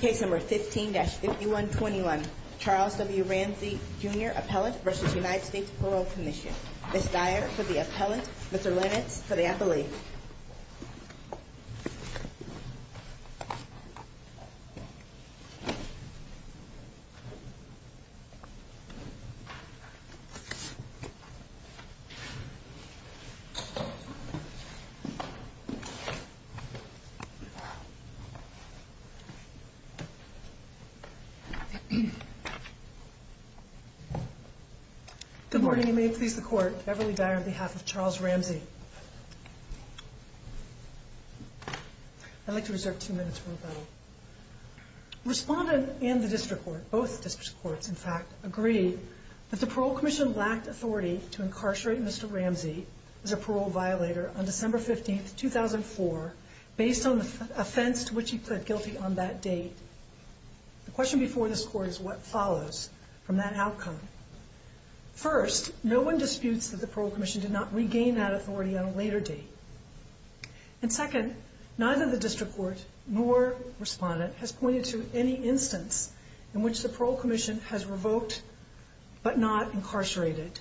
Case number 15-5121, Charles W. Ramsey Jr. Appellate v. United States Parole Commission Ms. Dyer for the Appellate, Mr. Lenitz for the Appellee Good morning, and may it please the Court, Beverly Dyer on behalf of Charles Ramsey. I'd like to reserve two minutes for rebuttal. Respondent and the District Court, both District Courts, in fact, agree that the Parole Commission lacked authority to incarcerate Mr. Ramsey as a parole violator on December 15, 2004, based on the offense to which he pled guilty on that date. The question before this Court is what follows from that outcome. First, no one disputes that the Parole Commission did not regain that authority on a later date. And second, neither the District Court nor Respondent has pointed to any instance in which the Parole Commission has revoked but not incarcerated.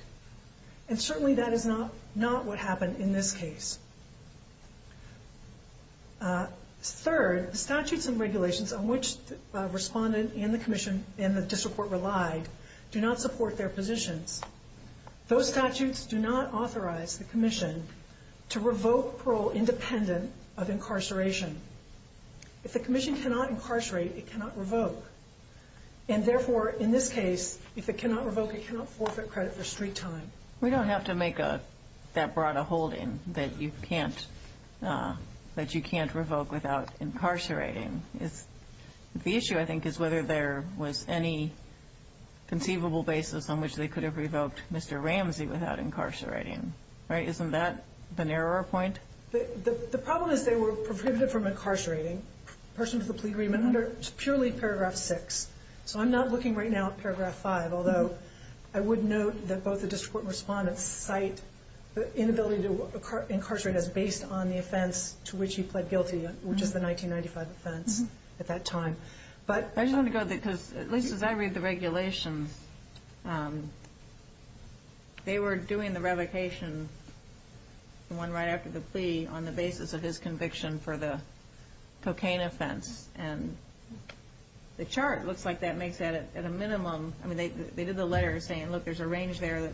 And certainly that is not what happened in this case. Third, the statutes and regulations on which Respondent and the Commission and the District Court relied do not support their positions. Those statutes do not authorize the Commission to revoke parole independent of incarceration. If the Parole Commission does not revoke parole independent of incarceration, then the Parole Commission does not have the authority to incarcerate Mr. Ramsey. And therefore, in this case, if it cannot revoke, it cannot forfeit credit for street time. We don't have to make that broad a holding, that you can't revoke without incarcerating. The issue, I think, is whether there was any conceivable basis on which they could have revoked Mr. Ramsey without incarcerating. Right? Isn't that the narrower point? The problem is they were prohibited from incarcerating persons with a plea agreement under purely paragraph 6. So I'm not looking right now at paragraph 5, although I would note that both the District Court and Respondent cite the inability to incarcerate as based on the offense to which he pled guilty, which is the 1995 offense at that time. But I just want to go, because at least as I read the regulations, they were doing the revocation, the one right after the plea, on the basis of his conviction for the cocaine offense. And the chart looks like that makes that at a minimum. I mean, they did the letter saying, look, there's a range there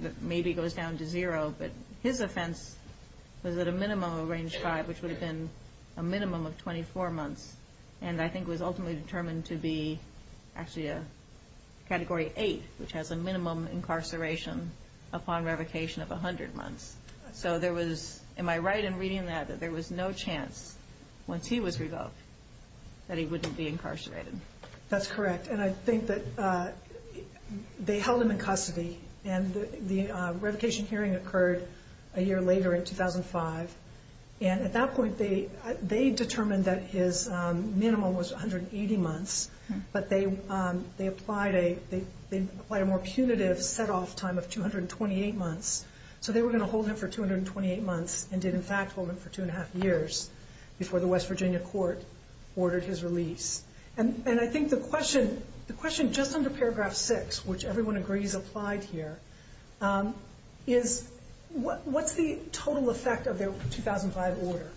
that maybe goes down to zero, but his offense was at a minimum of range 5, which would have been a minimum of 24 months, and I think was ultimately determined to be actually a Category 8, which has a minimum incarceration upon revocation of 100 months. So there was, am I right in reading that, that there was no chance once he was revoked that he wouldn't be incarcerated? That's correct. And I think that they held him in custody, and the revocation hearing occurred a year later in 2005. And at that point, they determined that his minimum was 180 months, but they applied a more punitive set-off time of 228 months. So they were going to hold him for 228 months and did, in fact, hold him for 2 1⁄2 years before the West Coast. And I think the question just under Paragraph 6, which everyone agrees applied here, is what's the total effect of their 2005 order?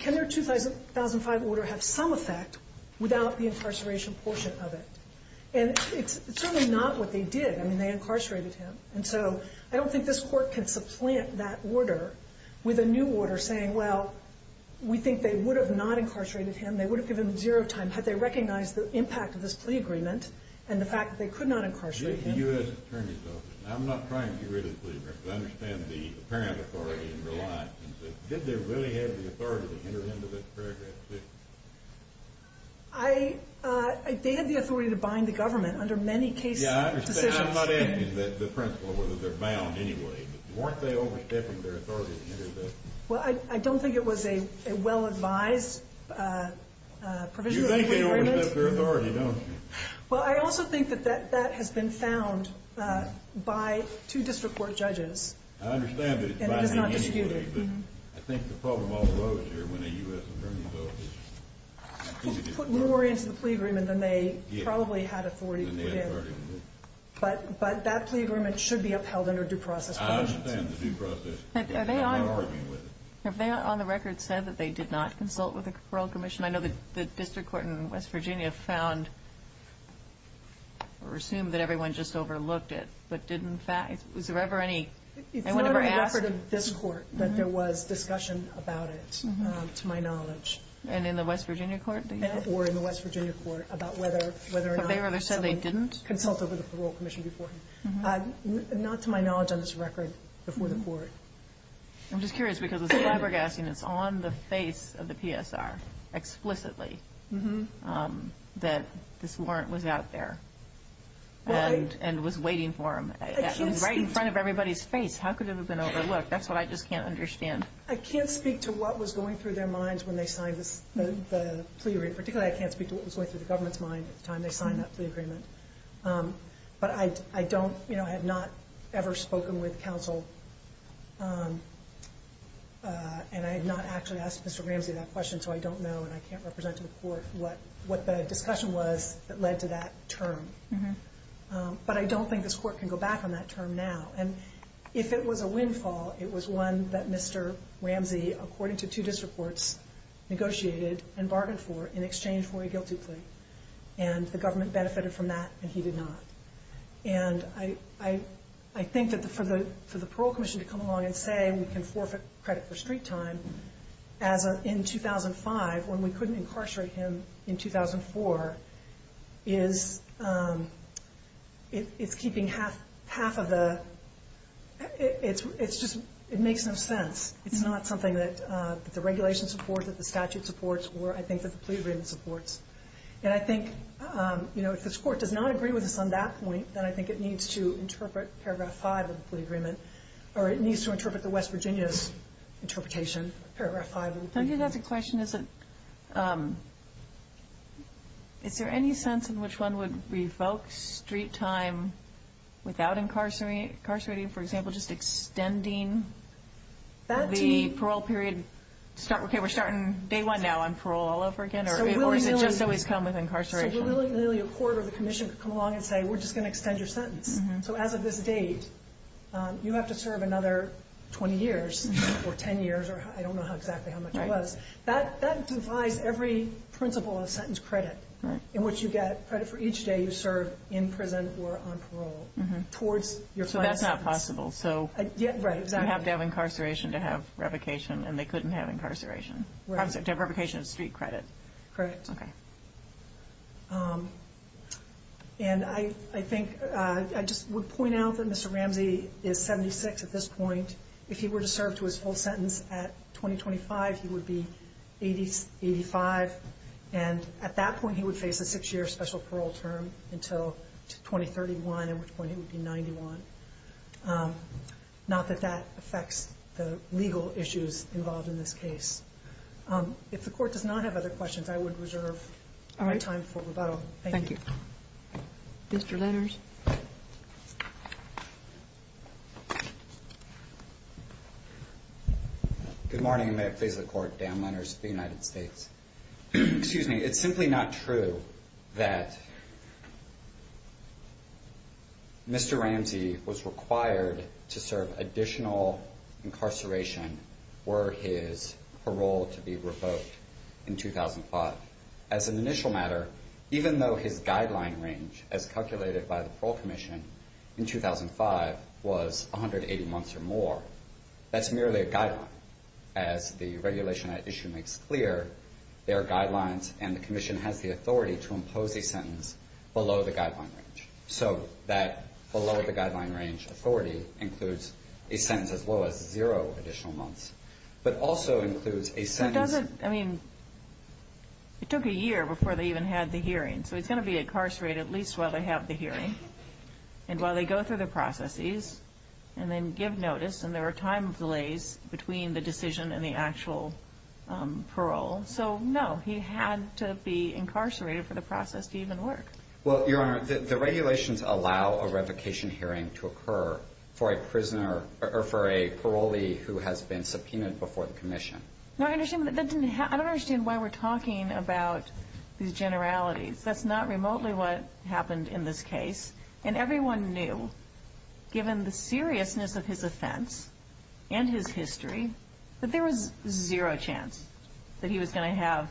Can their 2005 order have some effect without the incarceration portion of it? And it's certainly not what they did. I mean, they incarcerated him. And so I don't think this Court can supplant that order with a new order saying, well, we think they would have not incarcerated him, they would have given him zero time had they recognized the impact of this plea agreement and the fact that they could not incarcerate him. The U.S. Attorney's Office. I'm not trying to get rid of the plea agreement, but I understand the apparent authority and reliance. Did they really have the authority to hinder him to this Paragraph 6? They had the authority to bind the government under many case decisions. Yeah, I understand. I'm not asking the principle of whether they're bound anyway, but weren't they overstepping their authority to hinder this? Well, I don't think it was a well-advised provisional plea agreement. You think they overstepped their authority, don't you? Well, I also think that that has been found by two district court judges. I understand that it's binding anyway, but I think the problem all arose here when the U.S. Attorney's Office put more into the plea agreement than they probably had authority within. But that plea agreement should be upheld under due process provisions. Have they on the record said that they did not consult with the Parole Commission? I know the district court in West Virginia found, or assumed that everyone just overlooked it, but did in fact... It's not in the record of this court that there was discussion about it, to my knowledge. And in the West Virginia court? Or in the West Virginia court about whether or not someone consulted with the Parole Commission Not to my knowledge on this record before the court. I'm just curious because it's flabbergasting. It's on the face of the PSR explicitly that this warrant was out there and was waiting for them. Right in front of everybody's face. How could it have been overlooked? That's what I just can't understand. I can't speak to what was going through their minds when they signed the plea agreement. Particularly, I can't speak to what was going through the government's mind at the time when they signed that plea agreement. But I have not ever spoken with counsel, and I have not actually asked Mr. Ramsey that question, so I don't know and I can't represent to the court what the discussion was that led to that term. But I don't think this court can go back on that term now. And if it was a windfall, it was one that Mr. Ramsey, according to two district courts, negotiated and bargained for in exchange for a guilty plea. And the government benefited from that, and he did not. And I think that for the parole commission to come along and say we can forfeit credit for street time in 2005 when we couldn't incarcerate him in 2004, it's keeping half of the – it makes no sense. It's not something that the regulations support, that the statute supports, or I think that the plea agreement supports. And I think if this court does not agree with us on that point, then I think it needs to interpret Paragraph 5 of the plea agreement, or it needs to interpret the West Virginia's interpretation of Paragraph 5 of the plea agreement. I think that's a question. Is there any sense in which one would revoke street time without incarcerating, for example, just extending the parole period? Okay, we're starting day one now on parole all over again, or does it just always come with incarceration? So really a court or the commission could come along and say we're just going to extend your sentence. So as of this date, you have to serve another 20 years or 10 years, or I don't know exactly how much it was. That devises every principle of sentence credit in which you get credit for each day you serve in prison or on parole. So that's not possible. So you have to have incarceration to have revocation, and they couldn't have incarceration. To have revocation is street credit. Correct. And I think I just would point out that Mr. Ramsey is 76 at this point. If he were to serve to his full sentence at 2025, he would be 85. And at that point, he would face a six-year special parole term until 2031, at which point he would be 91. Not that that affects the legal issues involved in this case. If the Court does not have other questions, I would reserve my time for rebuttal. Thank you. Mr. Lenners. Good morning, and may it please the Court, Dan Lenners of the United States. Excuse me. It's simply not true that Mr. Ramsey was required to serve additional incarceration were his parole to be revoked in 2005. As an initial matter, even though his guideline range, as calculated by the Parole Commission in 2005, was 180 months or more, that's merely a guideline. As the regulation at issue makes clear, there are guidelines, and the Commission has the authority to impose a sentence below the guideline range. So that below-the-guideline-range authority includes a sentence as low as zero additional months, but also includes a sentence. But he doesn't – I mean, it took a year before they even had the hearing, so he's going to be incarcerated at least while they have the hearing and while they go through the processes and then give notice, and there are time delays between the decision and the actual parole. So, no, he had to be incarcerated for the process to even work. Well, Your Honor, the regulations allow a revocation hearing to occur for a prisoner or for a parolee who has been subpoenaed before the Commission. No, I don't understand why we're talking about these generalities. That's not remotely what happened in this case. And everyone knew, given the seriousness of his offense and his history, that there was zero chance that he was going to have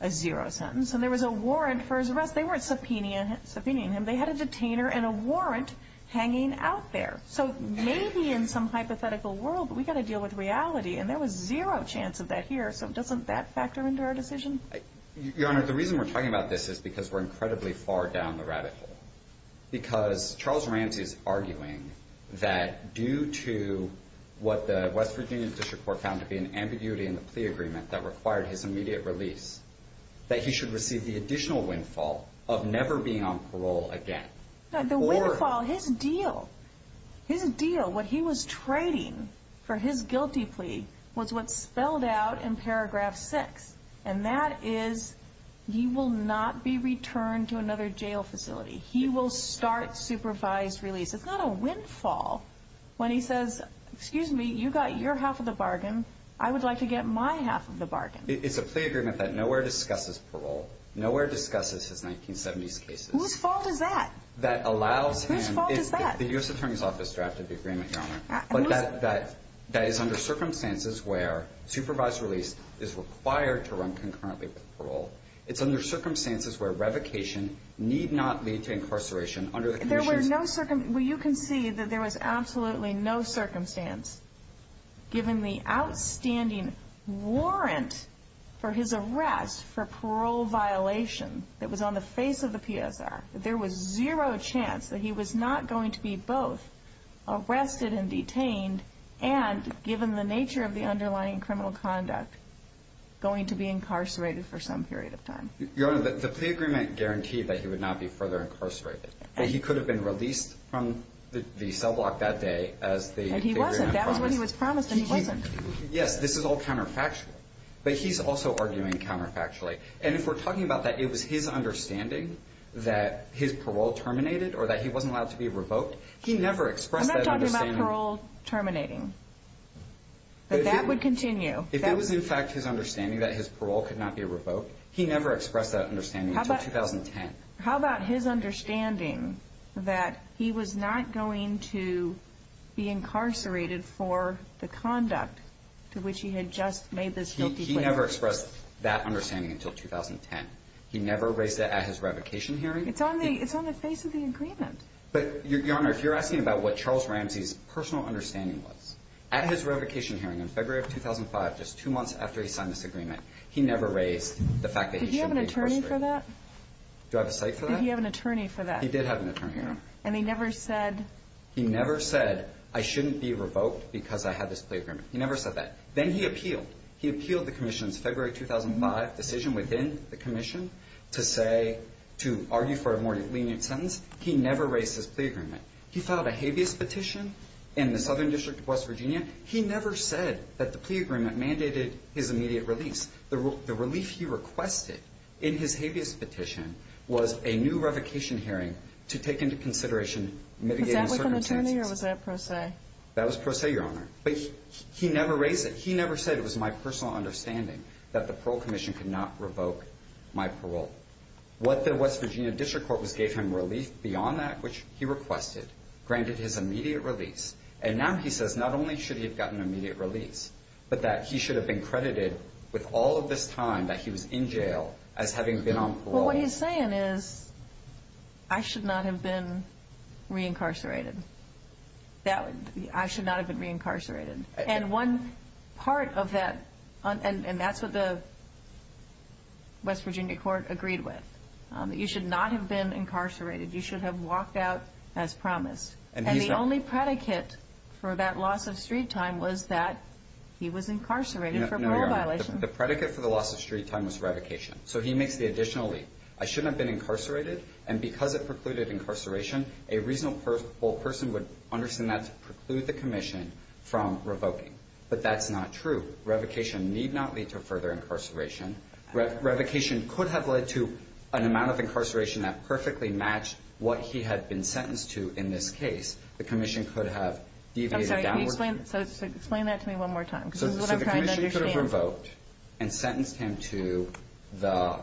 a zero sentence. And there was a warrant for his arrest. They weren't subpoenaing him. They had a detainer and a warrant hanging out there. So maybe in some hypothetical world we've got to deal with reality, and there was zero chance of that here. So doesn't that factor into our decision? Your Honor, the reason we're talking about this is because we're incredibly far down the rabbit hole. Because Charles Ramsey is arguing that due to what the West Virginia District Court found to be an ambiguity in the plea agreement that required his immediate release, that he should receive the additional windfall of never being on parole again. The windfall, his deal, his deal, what he was trading for his guilty plea, was what's spelled out in paragraph 6. And that is he will not be returned to another jail facility. He will start supervised release. It's not a windfall when he says, excuse me, you got your half of the bargain. I would like to get my half of the bargain. It's a plea agreement that nowhere discusses parole. Nowhere discusses his 1970s cases. Whose fault is that? That allows him. Whose fault is that? The U.S. Attorney's Office drafted the agreement, Your Honor. But that is under circumstances where supervised release is required to run concurrently with parole. It's under circumstances where revocation need not lead to incarceration under the conditions. There were no circumstances. Well, you can see that there was absolutely no circumstance, given the outstanding warrant for his arrest for parole violation that was on the face of the PSR, that there was zero chance that he was not going to be both arrested and detained and, given the nature of the underlying criminal conduct, going to be incarcerated for some period of time. Your Honor, the plea agreement guaranteed that he would not be further incarcerated. He could have been released from the cell block that day as the plea agreement promised. And he wasn't. That was what he was promised, and he wasn't. Yes, this is all counterfactual. But he's also arguing counterfactually. And if we're talking about that it was his understanding that his parole terminated or that he wasn't allowed to be revoked, he never expressed that understanding. I'm not talking about parole terminating. But that would continue. If it was, in fact, his understanding that his parole could not be revoked, he never expressed that understanding until 2010. How about his understanding that he was not going to be incarcerated for the conduct to which he had just made this guilty plea? He never expressed that understanding until 2010. He never raised it at his revocation hearing. It's on the face of the agreement. But, Your Honor, if you're asking about what Charles Ramsey's personal understanding was, at his revocation hearing in February of 2005, just two months after he signed this agreement, he never raised the fact that he shouldn't be incarcerated. Did he have an attorney for that? Do I have a cite for that? Did he have an attorney for that? He did have an attorney. And he never said? He never said, I shouldn't be revoked because I had this plea agreement. He never said that. Then he appealed. He appealed the commission's February 2005 decision within the commission to say, to argue for a more lenient sentence. He never raised his plea agreement. He filed a habeas petition in the Southern District of West Virginia. He never said that the plea agreement mandated his immediate release. The relief he requested in his habeas petition was a new revocation hearing to take into consideration mitigating circumstances. Was that with an attorney or was that pro se? That was pro se, Your Honor. But he never raised it. He never said it was my personal understanding that the parole commission could not revoke my parole. What the West Virginia District Court gave him relief beyond that, which he requested, granted his immediate release. And now he says not only should he have gotten immediate release, but that he should have been credited with all of this time that he was in jail as having been on parole. Well, what he's saying is I should not have been reincarcerated. I should not have been reincarcerated. And one part of that, and that's what the West Virginia Court agreed with. You should not have been incarcerated. You should have walked out as promised. And the only predicate for that loss of street time was that he was incarcerated for parole violation. The predicate for the loss of street time was revocation. So he makes the additional leap. I shouldn't have been incarcerated. And because it precluded incarceration, a reasonable person would understand that to preclude the commission from revoking. But that's not true. Revocation need not lead to further incarceration. Revocation could have led to an amount of incarceration that perfectly matched what he had been sentenced to in this case. The commission could have deviated. I'm sorry. Can you explain that to me one more time because this is what I'm trying to understand. And sentenced him to the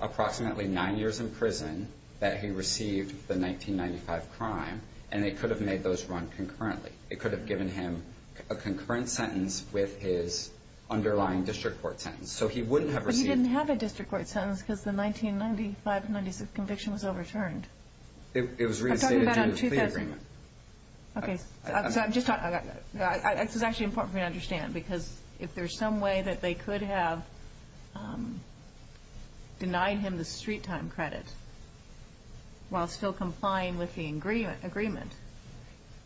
approximately nine years in prison that he received the 1995 crime. And they could have made those run concurrently. It could have given him a concurrent sentence with his underlying district court sentence. So he wouldn't have received. But he didn't have a district court sentence because the 1995-96 conviction was overturned. It was reinstated during the plea agreement. Okay. This is actually important for me to understand because if there's some way that they could have denied him the street time credit while still complying with the agreement.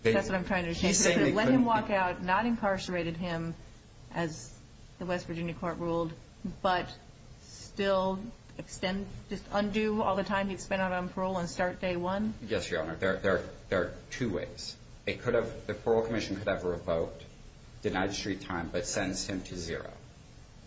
That's what I'm trying to understand. Let him walk out, not incarcerated him as the West Virginia court ruled, but still extend, just undo all the time he'd spent out on parole and start day one? Yes, Your Honor. There are two ways. The parole commission could have revoked, denied street time, but sentenced him to zero.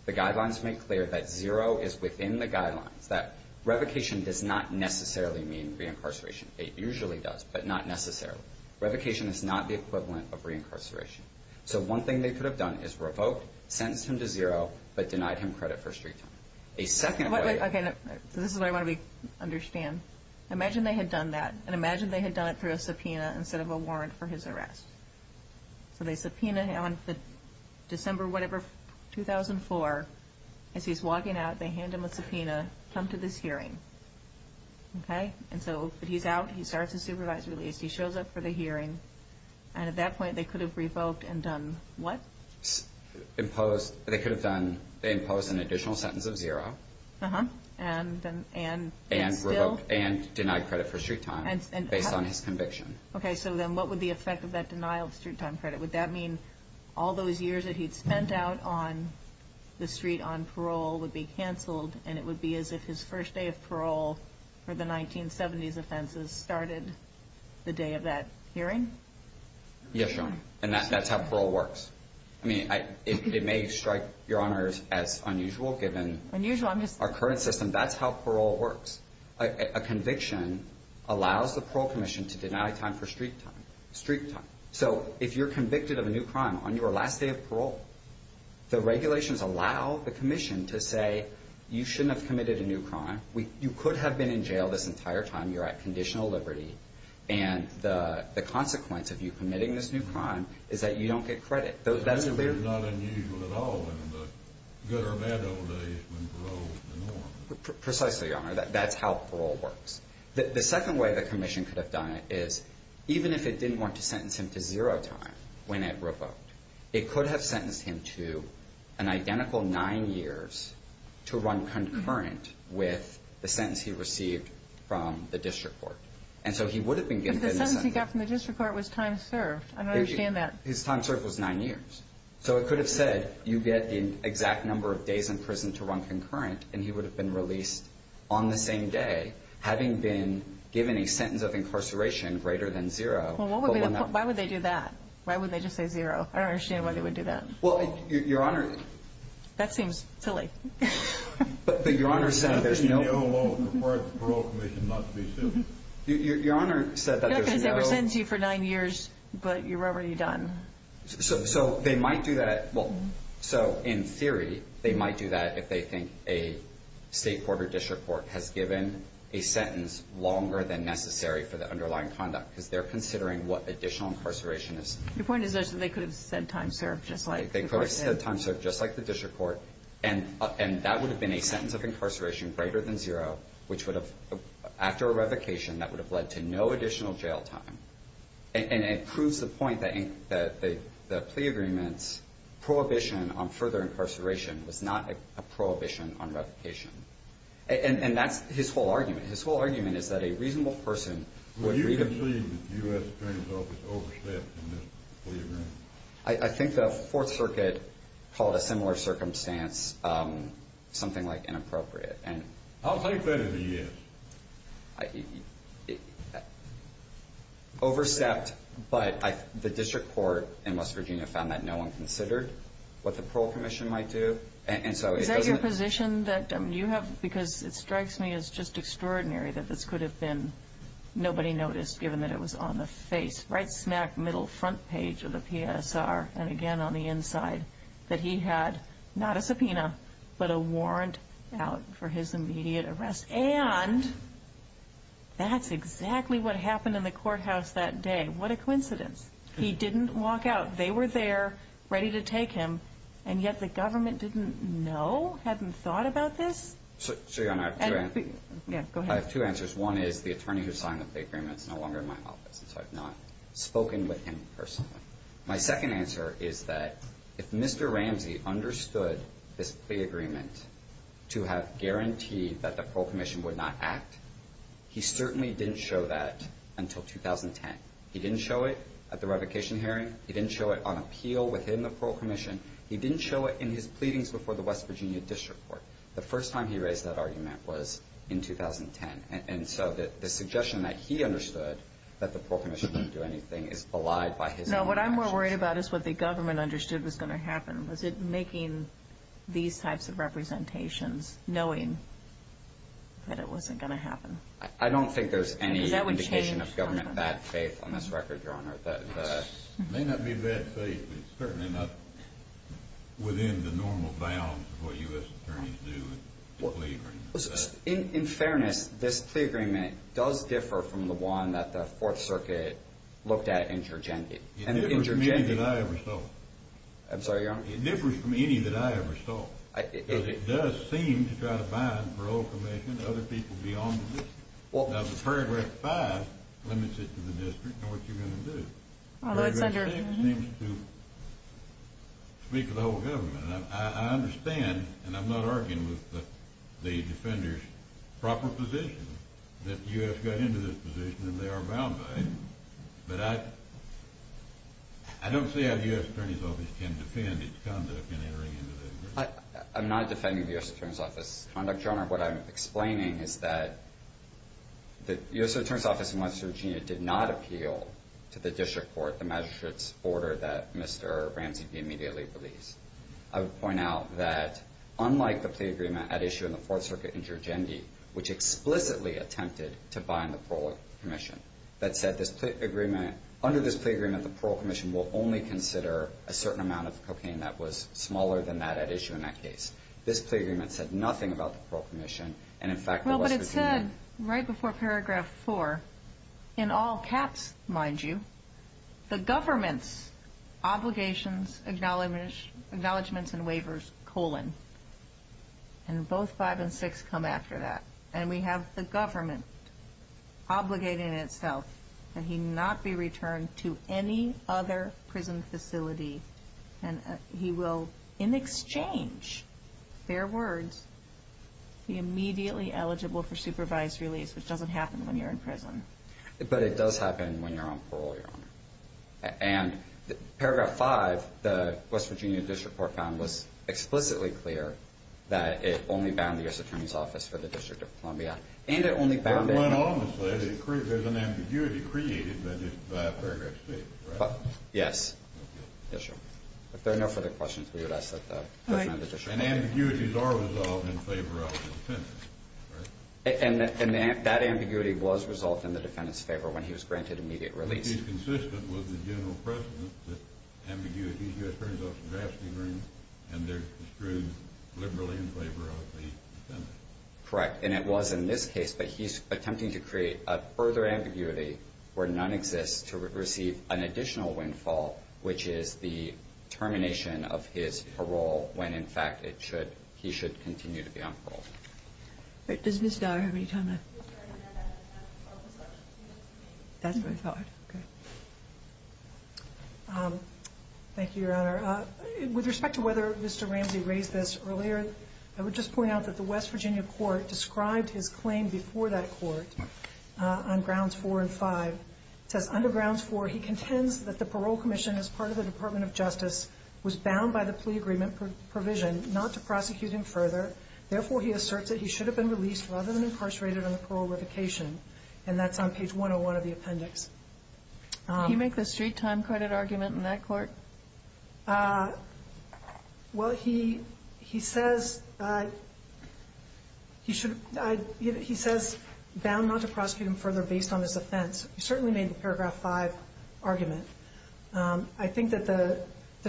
The guidelines make clear that zero is within the guidelines, that revocation does not necessarily mean reincarceration. It usually does, but not necessarily. Revocation is not the equivalent of reincarceration. So one thing they could have done is revoked, sentenced him to zero, but denied him credit for street time. A second way. Okay. This is what I want to understand. Imagine they had done that, and imagine they had done it through a subpoena instead of a warrant for his arrest. So they subpoena him on December whatever, 2004. As he's walking out, they hand him a subpoena, come to this hearing. Okay? And so he's out, he starts his supervised release, he shows up for the hearing, and at that point they could have revoked and done what? Imposed, they could have done, they imposed an additional sentence of zero. Uh-huh. And still? And denied credit for street time based on his conviction. Okay. So then what would the effect of that denial of street time credit? Would that mean all those years that he'd spent out on the street on parole would be canceled, and it would be as if his first day of parole for the 1970s offenses started the day of that hearing? Yes, Your Honor. And that's how parole works. I mean, it may strike Your Honors as unusual given our current system. Unusual. That's how parole works. A conviction allows the parole commission to deny time for street time. So if you're convicted of a new crime on your last day of parole, the regulations allow the commission to say you shouldn't have committed a new crime, you could have been in jail this entire time, you're at conditional liberty, and the consequence of you committing this new crime is that you don't get credit. That's clear? That's not unusual at all in the good or bad old days when parole was the norm. Precisely, Your Honor. That's how parole works. The second way the commission could have done it is, even if it didn't want to sentence him to zero time when it revoked, it could have sentenced him to an identical nine years to run concurrent with the sentence he received from the district court. And so he would have been given a sentence. But the sentence he got from the district court was time served. I don't understand that. His time served was nine years. So it could have said you get the exact number of days in prison to run concurrent, and he would have been released on the same day, having been given a sentence of incarceration greater than zero. Well, why would they do that? Why would they just say zero? I don't understand why they would do that. Well, Your Honor. That seems silly. But Your Honor said there's no. I think you know alone. As far as the parole commission, not to be silly. Your Honor said that there's no. No, because they were sentenced to you for nine years, but you were already done. So they might do that. Well, so in theory, they might do that if they think a state court or district court has given a sentence longer than necessary for the underlying conduct because they're considering what additional incarceration is. Your point is that they could have said time served just like the court said. They could have said time served just like the district court. And that would have been a sentence of incarceration greater than zero, which would have, after a revocation, that would have led to no additional jail time. And it proves the point that the plea agreement's prohibition on further incarceration was not a prohibition on revocation. And that's his whole argument. His whole argument is that a reasonable person would read a plea. Would you concede that the U.S. Attorney's Office overstepped in this plea agreement? I think the Fourth Circuit called a similar circumstance something like inappropriate. I'll take that as a yes. Overstepped, but the district court in West Virginia found that no one considered what the parole commission might do. Is that your position that you have, because it strikes me as just extraordinary that this could have been nobody noticed given that it was on the face, right smack middle front page of the PSR, and again on the inside, that he had not a subpoena but a warrant out for his immediate arrest? And that's exactly what happened in the courthouse that day. What a coincidence. He didn't walk out. They were there ready to take him, and yet the government didn't know, hadn't thought about this? I have two answers. One is the attorney who signed the plea agreement is no longer in my office, and so I've not spoken with him personally. My second answer is that if Mr. Ramsey understood this plea agreement to have guaranteed that the parole commission would not act, he certainly didn't show that until 2010. He didn't show it at the revocation hearing. He didn't show it on appeal within the parole commission. He didn't show it in his pleadings before the West Virginia district court. The first time he raised that argument was in 2010. And so the suggestion that he understood that the parole commission wouldn't do anything is belied by his own actions. No, what I'm more worried about is what the government understood was going to happen. Was it making these types of representations knowing that it wasn't going to happen? I don't think there's any indication of government bad faith on this record, Your Honor. It may not be bad faith, but it's certainly not within the normal bounds of what U.S. attorneys do in a plea agreement. In fairness, this plea agreement does differ from the one that the Fourth Circuit looked at in Jurgendi. It differs from any that I ever saw. I'm sorry, Your Honor? It differs from any that I ever saw. It does seem to try to bind the parole commission and other people beyond the district. Now, the Paragraph 5 limits it to the district and what you're going to do. Paragraph 6 seems to speak to the whole government. I understand, and I'm not arguing with the defenders' proper position, that the U.S. got into this position and they are bound by it. But I don't see how the U.S. Attorney's Office can defend its conduct in entering into the agreement. I'm not defending the U.S. Attorney's Office's conduct, Your Honor. What I'm explaining is that the U.S. Attorney's Office in West Virginia did not appeal to the district court the magistrate's order that Mr. Ramsey immediately believes. I would point out that unlike the plea agreement at issue in the Fourth Circuit in Jurgendi, which explicitly attempted to bind the parole commission, that said under this plea agreement the parole commission will only consider a certain amount of cocaine that was smaller than that at issue in that case. This plea agreement said nothing about the parole commission, and in fact the West Virginia Well, but it said right before Paragraph 4, in all caps, mind you, the government's obligations, acknowledgments, and waivers, colon. And both 5 and 6 come after that. And we have the government obligating itself that he not be returned to any other prison facility. And he will, in exchange, fair words, be immediately eligible for supervised release, But it does happen when you're on parole, Your Honor. And Paragraph 5, the West Virginia District Court found was explicitly clear that it only bound the U.S. Attorney's Office for the District of Columbia, and it only bound it Well, obviously there's an ambiguity created by Paragraph 6, right? Yes. Yes, Your Honor. If there are no further questions, we would ask that the question of the district court And ambiguities are resolved in favor of the defendant, right? And that ambiguity was resolved in the defendant's favor when he was granted immediate release. It is consistent with the general precedent that ambiguities, the U.S. Attorney's Office drafts the agreement, and they're construed liberally in favor of the defendant. Correct. And it was in this case, but he's attempting to create a further ambiguity where none exists to receive an additional windfall, which is the termination of his parole when, in fact, he should continue to be on parole. Does Ms. Dyer have any time left? That's what I thought. Thank you, Your Honor. With respect to whether Mr. Ramsey raised this earlier, I would just point out that the West Virginia court described his claim before that court on Grounds 4 and 5. It says, under Grounds 4, he contends that the parole commission as part of the Department of Justice was bound by the plea agreement provision not to prosecute him further. Therefore, he asserts that he should have been released rather than incarcerated on the parole revocation. And that's on page 101 of the appendix. Did he make the street-time credit argument in that court? Well, he says bound not to prosecute him further based on his offense. He certainly made the paragraph 5 argument. I think that the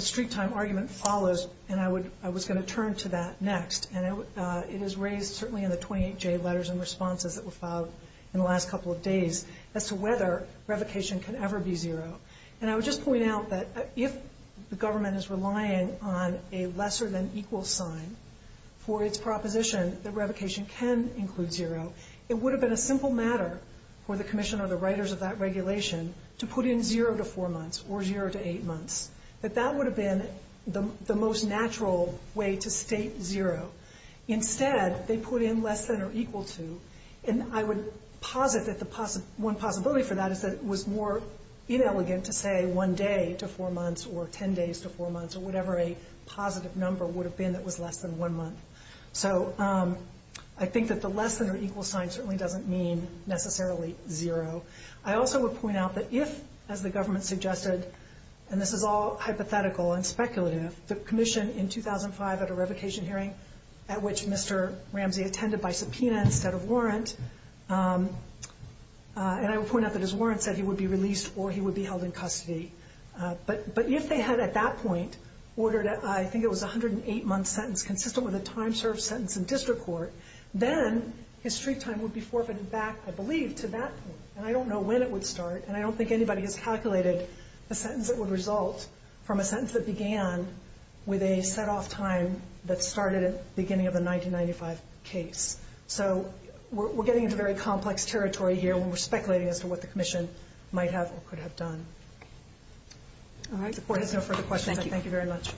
street-time argument follows, and I was going to turn to that next. And it is raised certainly in the 28J letters and responses that were filed in the last couple of days as to whether revocation can ever be zero. And I would just point out that if the government is relying on a lesser-than-equal sign for its proposition that revocation can include zero, it would have been a simple matter for the commissioner or the writers of that regulation to put in zero to four months or zero to eight months. That that would have been the most natural way to state zero. Instead, they put in less than or equal to, and I would posit that one possibility for that is that it was more inelegant to say one day to four months or ten days to four months or whatever a positive number would have been that was less than one month. So I think that the less-than-equal sign certainly doesn't mean necessarily zero. I also would point out that if, as the government suggested, and this is all hypothetical and speculative, the commission in 2005 at a revocation hearing at which Mr. Ramsey attended by subpoena instead of warrant, and I would point out that his warrant said he would be released or he would be held in custody. But if they had at that point ordered, I think it was a 108-month sentence consistent with a time-served sentence in district court, then his street time would be forfeited back, I believe, to that point. And I don't know when it would start, and I don't think anybody has calculated the sentence that would result from a sentence that began with a set-off time that started at the beginning of the 1995 case. So we're getting into very complex territory here when we're speculating as to what the commission might have or could have done. All right. The court has no further questions. Thank you very much.